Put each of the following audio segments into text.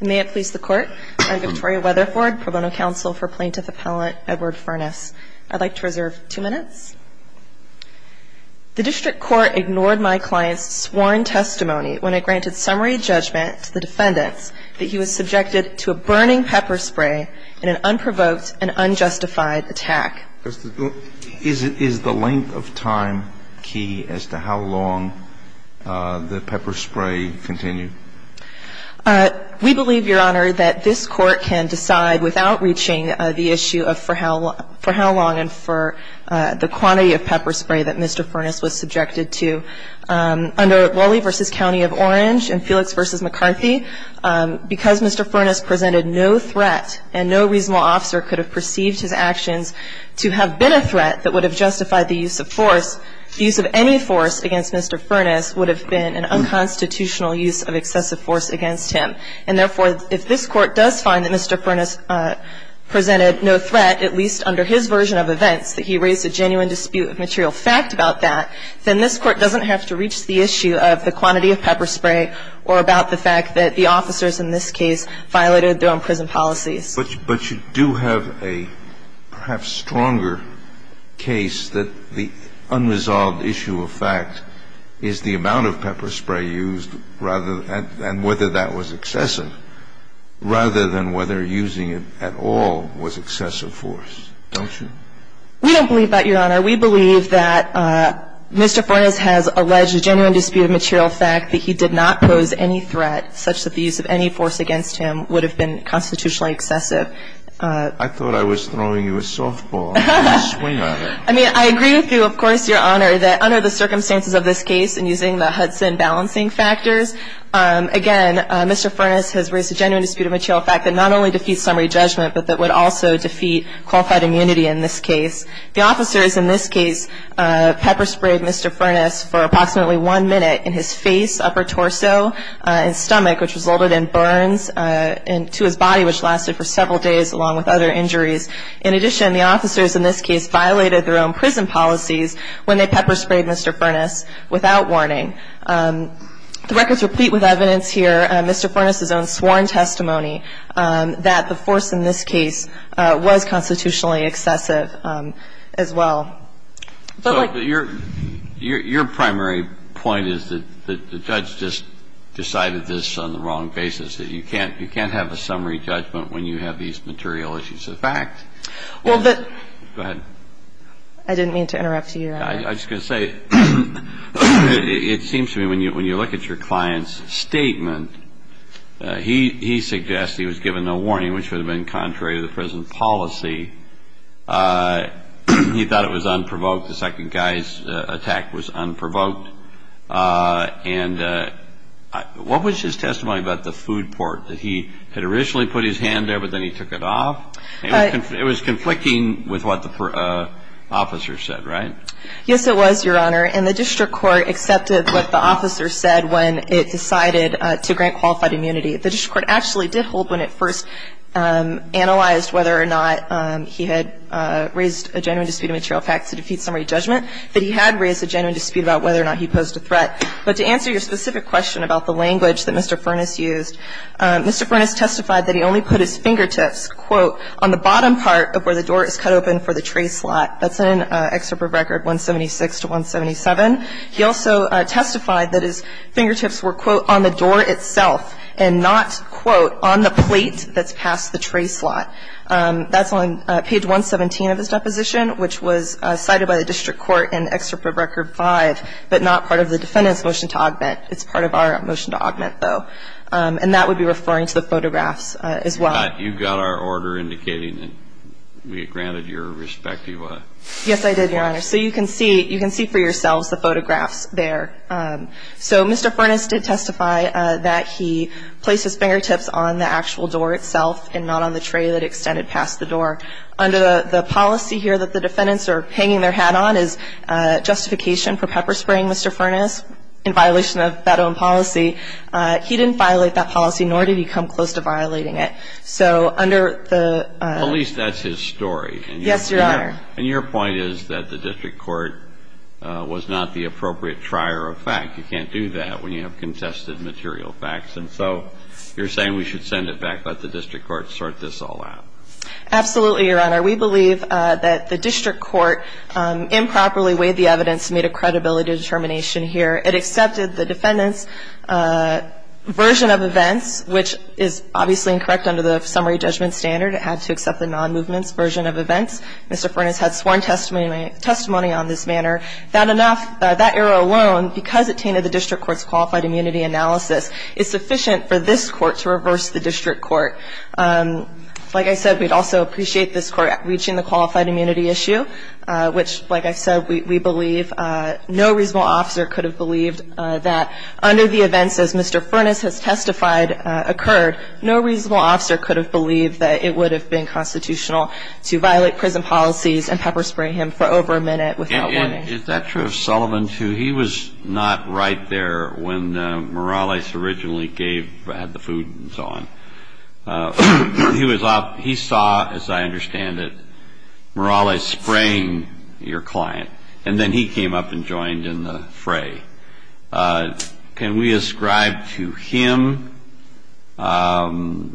May it please the court, I'm Victoria Weatherford, pro bono counsel for plaintiff appellant Edward Furnace. I'd like to reserve two minutes. The district court ignored my client's sworn testimony when I granted summary judgment to the defendants that he was subjected to a burning pepper spray in an unprovoked and unjustified attack. Is the length of time key as to how long the pepper spray continued? We believe, Your Honor, that this court can decide without reaching the issue of for how long and for the quantity of pepper spray that Mr. Furnace was subjected to. Under Lully v. County of Orange and Felix v. McCarthy, because Mr. Furnace presented no threat and no reasonable officer could have perceived his actions to have been a threat that would have justified the use of force, the use of any force against Mr. Furnace would have been an unconstitutional use of excessive force against him. And therefore, if this Court does find that Mr. Furnace presented no threat, at least under his version of events, that he raised a genuine dispute of material fact about that, then this Court doesn't have to reach the issue of the quantity of pepper spray or about the fact that the officers in this case violated their own prison policies. But you do have a perhaps stronger case that the unresolved issue of fact is the amount of pepper spray used rather than whether that was excessive, rather than whether using it at all was excessive force, don't you? We don't believe that, Your Honor. We believe that Mr. Furnace has alleged a genuine dispute of material fact that he did not pose any threat such that the use of any force against him would have been constitutionally excessive. I thought I was throwing you a softball. I mean, I agree with you, of course, Your Honor, that under the circumstances of this case and using the Hudson balancing factors, again, Mr. Furnace has raised a genuine dispute of material fact that not only defeats summary judgment, but that would also defeat qualified immunity in this case. The officers in this case pepper sprayed Mr. Furnace for approximately one minute in his face, upper torso, and stomach, which resulted in burns to his body, which lasted for several days, along with other injuries. In addition, the officers in this case violated their own prison policies when they pepper sprayed Mr. Furnace without warning. The records repeat with evidence here Mr. Furnace's own sworn testimony that the force in this case was constitutionally excessive as well. Your primary point is that the judge just decided this on the wrong basis, that you can't have a summary judgment when you have these material issues of fact. Go ahead. I didn't mean to interrupt you, Your Honor. I was just going to say it seems to me when you look at your client's statement, he suggests he was given no warning, which would have been contrary to the prison policy. He thought it was unprovoked. The second guy's attack was unprovoked. And what was his testimony about the food port, that he had originally put his hand there, but then he took it off? It was conflicting with what the officer said, right? Yes, it was, Your Honor. And the district court accepted what the officer said when it decided to grant qualified immunity. The district court actually did hold when it first analyzed whether or not he had raised a genuine dispute of material facts to defeat summary judgment, that he had raised a genuine dispute about whether or not he posed a threat. But to answer your specific question about the language that Mr. Furnace used, Mr. Furnace testified that he only put his fingertips, quote, on the bottom part of where the door is cut open for the tray slot. That's in Excerpt from Record 176 to 177. He also testified that his fingertips were, quote, on the door itself and not, quote, on the plate that's past the tray slot. That's on page 117 of his deposition, which was cited by the district court in Excerpt from Record 5, but not part of the defendant's motion to augment. It's part of our motion to augment, though. And that would be referring to the photographs as well. You got our order indicating that we granted your respective ---- Yes, I did, Your Honor. So you can see for yourselves the photographs there. So Mr. Furnace did testify that he placed his fingertips on the actual door itself and not on the tray that extended past the door. Under the policy here that the defendants are hanging their hat on is justification for pepper-spraying Mr. Furnace in violation of that own policy. He didn't violate that policy, nor did he come close to violating it. So under the ---- At least that's his story. Yes, Your Honor. And your point is that the district court was not the appropriate trier of fact. You can't do that when you have contested material facts. And so you're saying we should send it back, let the district court sort this all out. Absolutely, Your Honor. We believe that the district court improperly weighed the evidence and made a credibility determination here. It accepted the defendant's version of events, which is obviously incorrect under the summary judgment standard. It had to accept the nonmovement's version of events. Mr. Furnace had sworn testimony on this matter. That enough ---- that error alone, because it tainted the district court's qualified immunity analysis, is sufficient for this court to reverse the district court. Like I said, we'd also appreciate this court reaching the qualified immunity issue, which, like I said, we believe no reasonable officer could have believed that under the events as Mr. Furnace has testified occurred, no reasonable officer could have believed that it would have been constitutional to violate prison policies and pepper spray him for over a minute without warning. Is that true of Sullivan, too? He was not right there when Morales originally gave the food and so on. He saw, as I understand it, Morales spraying your client, and then he came up and joined in the fray. Can we ascribe to him an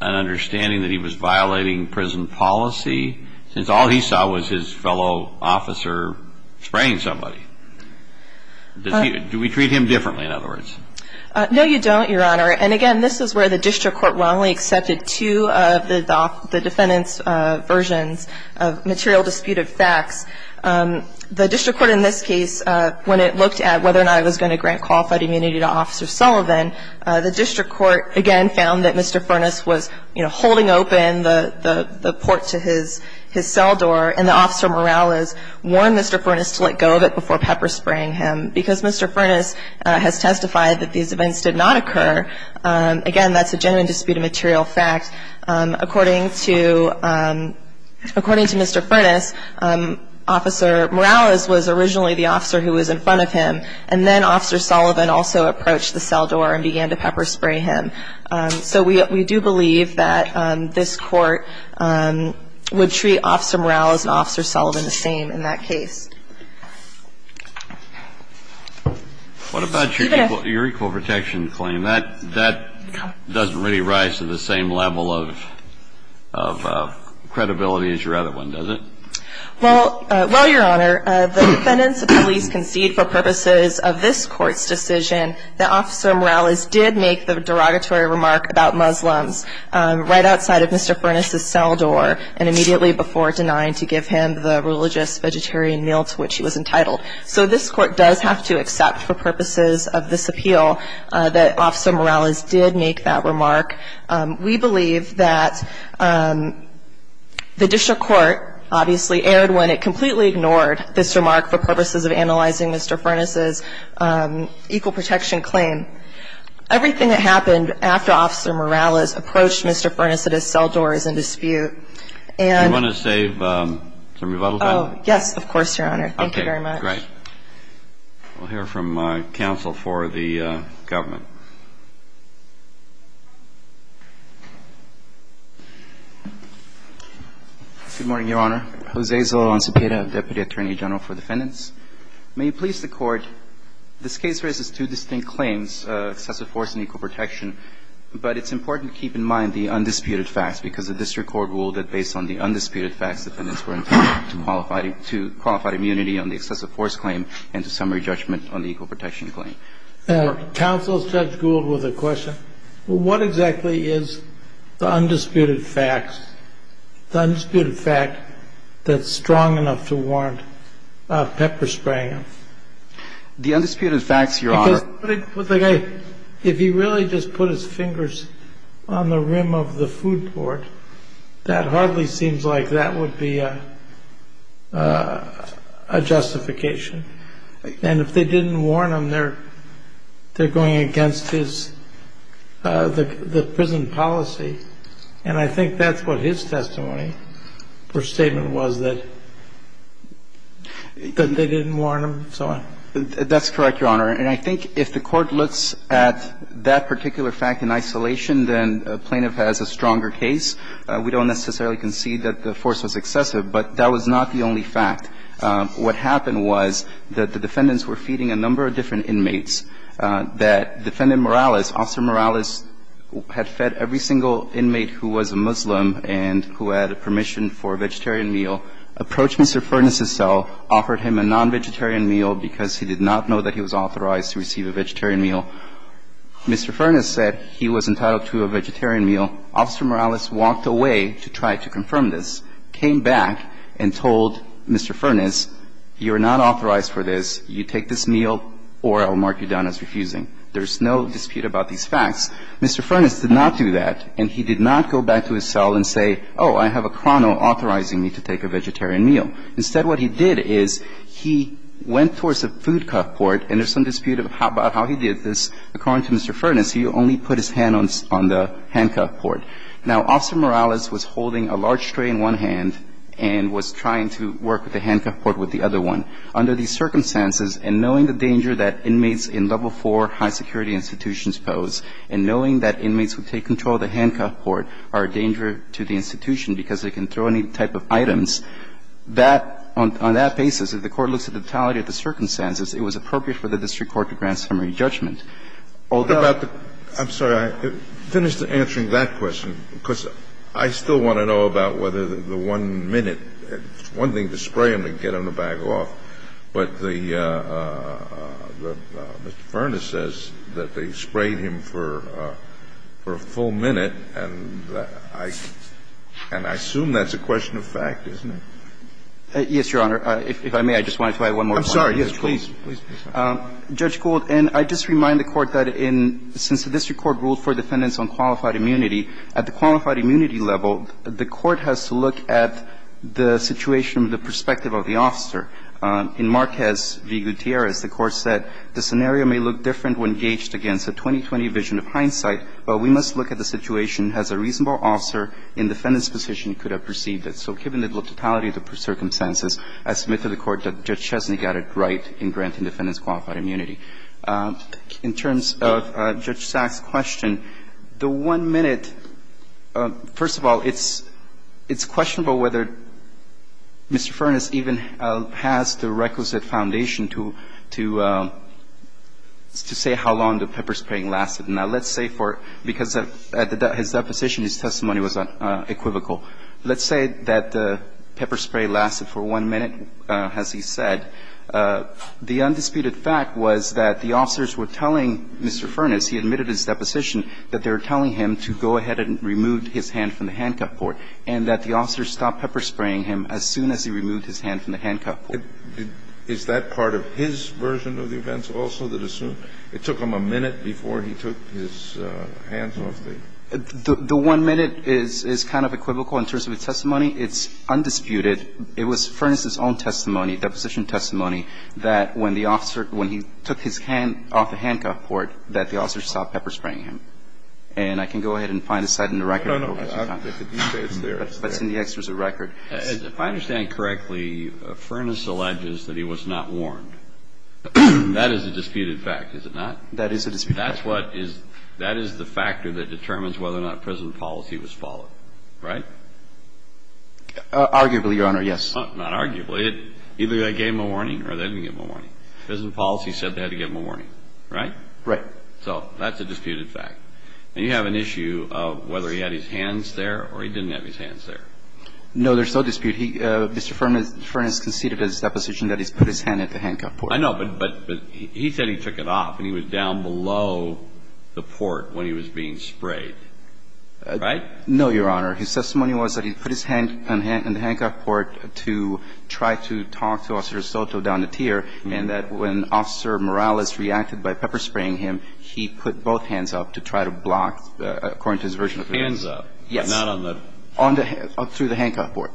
understanding that he was violating prison policy, since all he saw was his fellow officer spraying somebody? Do we treat him differently, in other words? No, you don't, Your Honor. And, again, this is where the district court wrongly accepted two of the defendant's versions of material disputed facts. The district court in this case, when it looked at whether or not it was going to grant qualified immunity to Officer Sullivan, the district court, again, found that Mr. Furnace was holding open the port to his cell door, and that Officer Morales warned Mr. Furnace to let go of it before pepper spraying him. Because Mr. Furnace has testified that these events did not occur, again, that's a genuine disputed material fact. According to Mr. Furnace, Officer Morales was originally the officer who was in front of him, and then Officer Sullivan also approached the cell door and began to pepper spray him. So we do believe that this court would treat Officer Morales and Officer Sullivan the same in that case. What about your equal protection claim? That doesn't really rise to the same level of credibility as your other one, does it? Well, Your Honor, the defendants at least concede for purposes of this court's decision that Officer Morales did make the derogatory remark about Muslims right outside of Mr. Furnace's cell door and immediately before denying to give him the religious, vegetarian meal to which he was entitled. So this court does have to accept for purposes of this appeal that Officer Morales did make that remark. We believe that the district court obviously erred when it completely ignored this remark for purposes of analyzing Mr. Furnace's equal protection claim. Everything that happened after Officer Morales approached Mr. Furnace at his cell door is in dispute. Do you want to save some rebuttal time? Oh, yes, of course, Your Honor. Thank you very much. Okay. Great. We'll hear from counsel for the government. Good morning, Your Honor. Jose Zolo Ancipieta, Deputy Attorney General for Defendants. May it please the Court, this case raises two distinct claims, excessive force and equal protection, but it's important to keep in mind the undisputed facts because the district court ruled that based on the undisputed facts defendants were entitled to qualified immunity on the excessive force claim and to summary judgment on the equal protection claim. Counsel, Judge Gould with a question. What exactly is the undisputed facts, the undisputed fact that's strong enough to warrant pepper spraying? The undisputed facts, Your Honor. Because if he really just put his fingers on the rim of the food court, that hardly seems like that would be a justification. And if they didn't warn him, they're going against his prison policy. And I think that's what his testimony or statement was, that they didn't warn him. That's correct, Your Honor. And I think if the Court looks at that particular fact in isolation, then a plaintiff has a stronger case. We don't necessarily concede that the force was excessive, but that was not the only fact. What happened was that the defendants were feeding a number of different inmates, that Defendant Morales, Officer Morales, had fed every single inmate who was a Muslim and who had permission for a vegetarian meal, approached Mr. Furness's cell, offered him a non-vegetarian meal because he did not know that he was authorized to receive a vegetarian meal. Mr. Furness said he was entitled to a vegetarian meal. Officer Morales walked away to try to confirm this, came back and told Mr. Furness, you are not authorized for this, you take this meal, or I'll mark you down as refusing. There's no dispute about these facts. Mr. Furness did not do that, and he did not go back to his cell and say, oh, I have a Crono authorizing me to take a vegetarian meal. Instead, what he did is he went towards the food court, and there's some dispute about how he did this. According to Mr. Furness, he only put his hand on the handcuff port. Now, Officer Morales was holding a large tray in one hand and was trying to work with the handcuff port with the other one. Under these circumstances, and knowing the danger that inmates in level 4 high security institutions pose, and knowing that inmates who take control of the handcuff port are a danger to the institution because they can throw any type of items, that, on that basis, if the Court looks at the totality of the circumstances, it was appropriate for the district court to grant summary judgment. Although the Court did not do that. Kennedy, I'm sorry. I finished answering that question, because I still want to know about whether the one minute, one thing to spray him and get him the bag off. But the Mr. Furness says that they sprayed him for a full minute, and I assume that's a question of fact, isn't it? Yes, Your Honor. If I may, I just wanted to add one more point. I'm sorry. Yes, please. Judge Gould, and I just remind the Court that since the district court ruled for defendants on qualified immunity, at the qualified immunity level, the Court has to look at the situation from the perspective of the officer. In Marquez v. Gutierrez, the Court said the scenario may look different when gauged against a 2020 vision of hindsight, but we must look at the situation as a reasonable officer in defendant's position could have perceived it. So given the totality of the circumstances, I submit to the Court that Judge Chesney got it right in granting defendants qualified immunity. In terms of Judge Sachs' question, the one minute, first of all, it's questionable whether Mr. Furness even has the requisite foundation to say how long the pepper spraying lasted. Now, let's say for – because at his deposition, his testimony was equivocal. Let's say that the pepper spray lasted for one minute, as he said. The undisputed fact was that the officers were telling Mr. Furness, he admitted at his deposition, that they were telling him to go ahead and remove his hand from the handcuff port, and that the officers stopped pepper spraying him as soon as he removed his hand from the handcuff port. Is that part of his version of the events also, that it took him a minute before he took his hands off the – The one minute is kind of equivocal in terms of his testimony. It's undisputed. It was Furness' own testimony, deposition testimony, that when the officer – when he took his hand off the handcuff port, that the officers stopped pepper spraying him. And I can go ahead and find a cite in the record. No, no, no. It's there. But it's in the exorcist record. If I understand correctly, Furness alleges that he was not warned. That is a disputed fact, is it not? That is a disputed fact. That's what is – that is the factor that determines whether or not prison policy was followed, right? Arguably, Your Honor, yes. Not arguably. Either they gave him a warning or they didn't give him a warning. Prison policy said they had to give him a warning, right? Right. So that's a disputed fact. And you have an issue of whether he had his hands there or he didn't have his hands there. No, there's no dispute. Mr. Furness conceded his deposition that he put his hand at the handcuff port. I know, but he said he took it off, and he was down below the port when he was being sprayed, right? No, Your Honor. His testimony was that he put his hand in the handcuff port to try to talk to Officer Soto down the tier, and that when Officer Morales reacted by pepper-spraying him, he put both hands up to try to block, according to his version of the case. Hands up. Yes. Not on the – On the – through the handcuff port.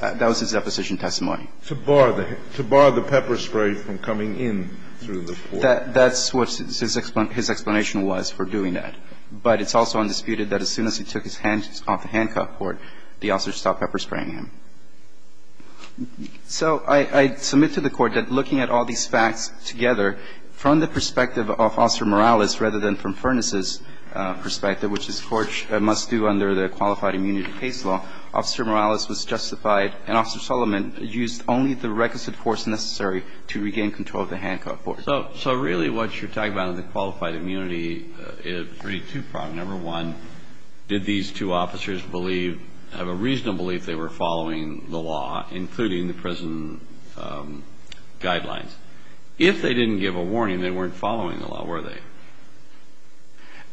That was his deposition testimony. To bar the pepper spray from coming in through the port. That's what his explanation was for doing that. But it's also undisputed that as soon as he took his hands off the handcuff port, the officer stopped pepper-spraying him. So I submit to the Court that looking at all these facts together, from the perspective of Officer Morales rather than from Furness's perspective, which this Court must do under the Qualified Immunity Case Law, Officer Morales was justified, and Officer Solomon used only the requisite force necessary to regain control of the handcuff port. So really what you're talking about in the Qualified Immunity is pretty two-pronged. Number one, did these two officers believe – have a reasonable belief they were following the law, including the prison guidelines? If they didn't give a warning, they weren't following the law, were they?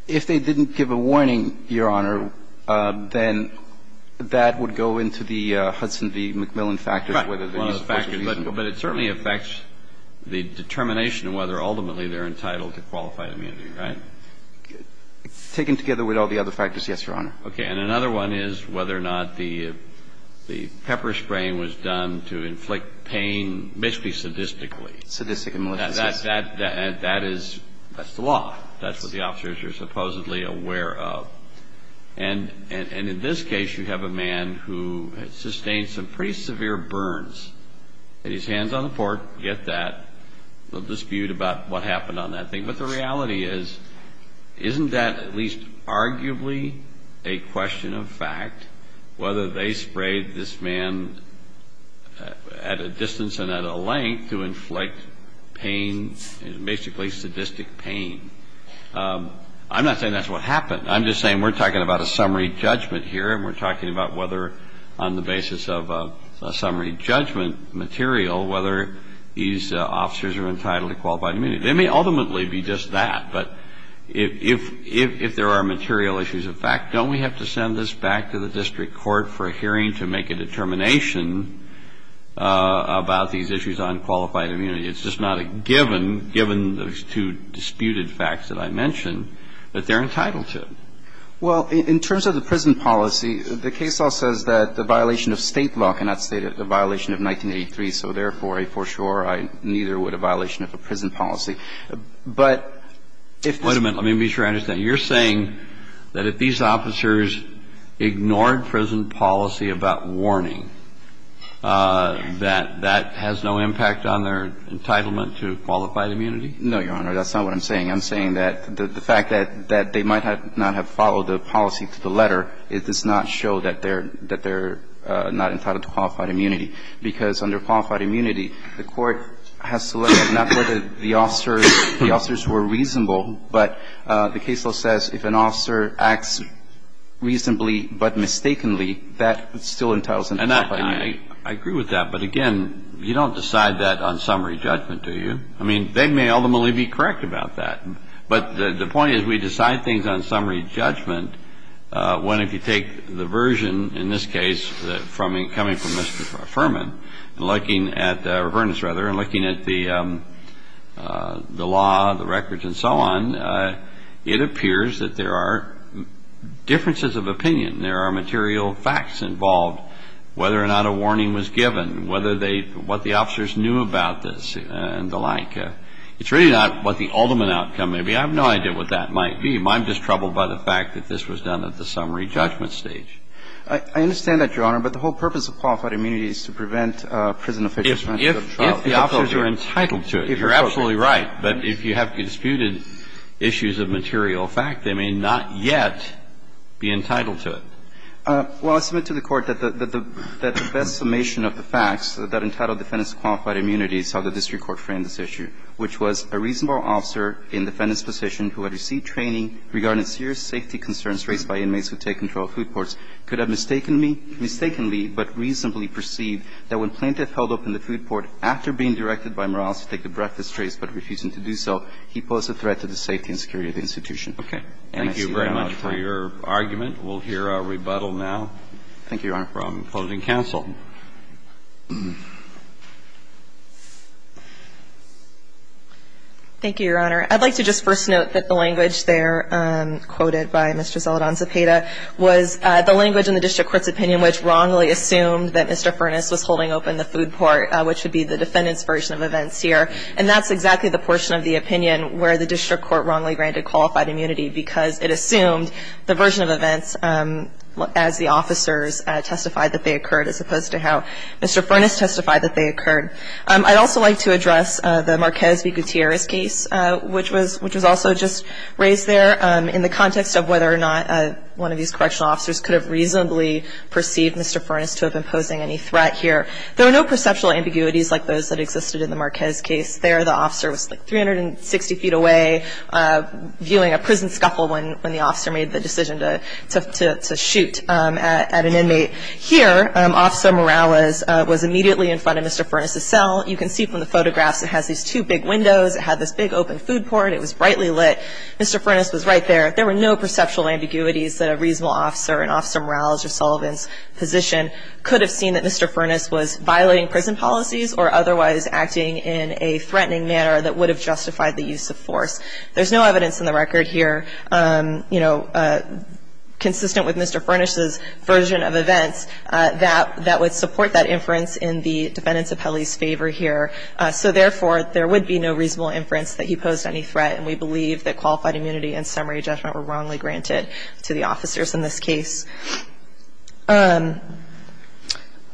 If they didn't give a warning, Your Honor, then that would go into the Hudson v. McMillan factors, whether the use of force is reasonable. But it certainly affects the determination of whether ultimately they're entitled to qualified immunity, right? Taken together with all the other factors, yes, Your Honor. Okay. And another one is whether or not the pepper-spraying was done to inflict pain, basically sadistically. Sadistic and malicious. That is the law. That's what the officers are supposedly aware of. And in this case, you have a man who has sustained some pretty severe burns. He had his hands on the port. Get that. No dispute about what happened on that thing. But the reality is, isn't that at least arguably a question of fact, whether they sprayed this man at a distance and at a length to inflict pain, basically sadistic pain? I'm not saying that's what happened. I'm just saying we're talking about a summary judgment here, and we're talking about whether, on the basis of a summary judgment material, whether these officers are entitled to qualified immunity. They may ultimately be just that. But if there are material issues of fact, don't we have to send this back to the district court for a hearing to make a determination about these issues on qualified immunity? It's just not a given, given those two disputed facts that I mentioned, that they're entitled to. Well, in terms of the prison policy, the case law says that the violation of State law cannot state a violation of 1983. So therefore, I for sure, I neither would a violation of a prison policy. But if this ---- Wait a minute. Let me be sure I understand. You're saying that if these officers ignored prison policy about warning, that that has no impact on their entitlement to qualified immunity? No, Your Honor. That's not what I'm saying. I'm saying that the fact that they might not have followed the policy to the letter, it does not show that they're not entitled to qualified immunity. Because under qualified immunity, the court has to look at not whether the officers were reasonable, but the case law says if an officer acts reasonably but mistakenly, that still entitles them to qualified immunity. And I agree with that. But, again, you don't decide that on summary judgment, do you? I mean, they may ultimately be correct about that. But the point is we decide things on summary judgment when, if you take the version in this case coming from Mr. Furman, looking at ---- or Vernis, rather, and looking at the law, the records, and so on, it appears that there are differences of opinion. There are material facts involved, whether or not a warning was given, whether they ---- what the officers knew about this and the like. It's really not what the ultimate outcome may be. I have no idea what that might be. I'm just troubled by the fact that this was done at the summary judgment stage. I understand that, Your Honor, but the whole purpose of qualified immunity is to prevent prison officials from having to go to trial. If the officers are entitled to it, you're absolutely right. But if you have disputed issues of material fact, they may not yet be entitled to it. Well, I submit to the Court that the best summation of the facts that entitled defendants to qualified immunity is how the district court framed this issue, which was a reasonable officer in defendant's position who had received training regarding serious safety concerns raised by inmates who take control of food ports could have mistakenly but reasonably perceived that when plaintiff held open the food port after being directed by Morales to take a breakfast trace but refusing to do so, he posed a threat to the safety and security of the institution. Okay. Thank you very much for your argument. We'll hear our rebuttal now. Thank you, Your Honor. From closing counsel. Thank you, Your Honor. I'd like to just first note that the language there quoted by Mr. Zeldon-Zepeda was the language in the district court's opinion which wrongly assumed that Mr. Furness was holding open the food port, which would be the defendant's version of events here, and that's exactly the portion of the opinion where the district court wrongly granted qualified immunity because it assumed the version of events as the officers testified that they occurred as opposed to how Mr. Furness testified that they occurred. I'd also like to address the Marquez v. Gutierrez case, which was also just raised there in the context of whether or not one of these correctional officers could have reasonably perceived Mr. Furness to have been posing any threat here. There were no perceptual ambiguities like those that existed in the Marquez case there. The officer was like 360 feet away viewing a prison scuffle when the officer made the decision to shoot at an inmate. Here, Officer Morales was immediately in front of Mr. Furness's cell. You can see from the photographs it has these two big windows. It had this big open food port. It was brightly lit. Mr. Furness was right there. There were no perceptual ambiguities that a reasonable officer in Officer Morales or Sullivan's position could have seen that Mr. Furness was violating prison policies or otherwise acting in a threatening manner that would have justified the use of force. There's no evidence in the record here, you know, consistent with Mr. Furness's version of events that would support that inference in the defendant's appellee's favor here. So, therefore, there would be no reasonable inference that he posed any threat, and we believe that qualified immunity and summary judgment were wrongly granted to the officers in this case. I'd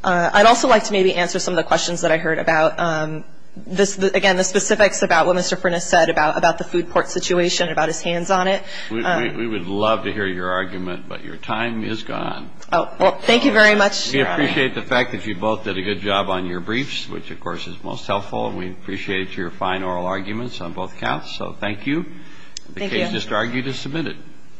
also like to maybe answer some of the questions that I heard about, again, the specifics about what Mr. Furness said about the food port situation, about his hands on it. We would love to hear your argument, but your time is gone. Oh, well, thank you very much, Your Honor. We appreciate the fact that you both did a good job on your briefs, which, of course, is most helpful, and we appreciate your fine oral arguments on both counts, so thank you. Thank you. The case just argued is submitted.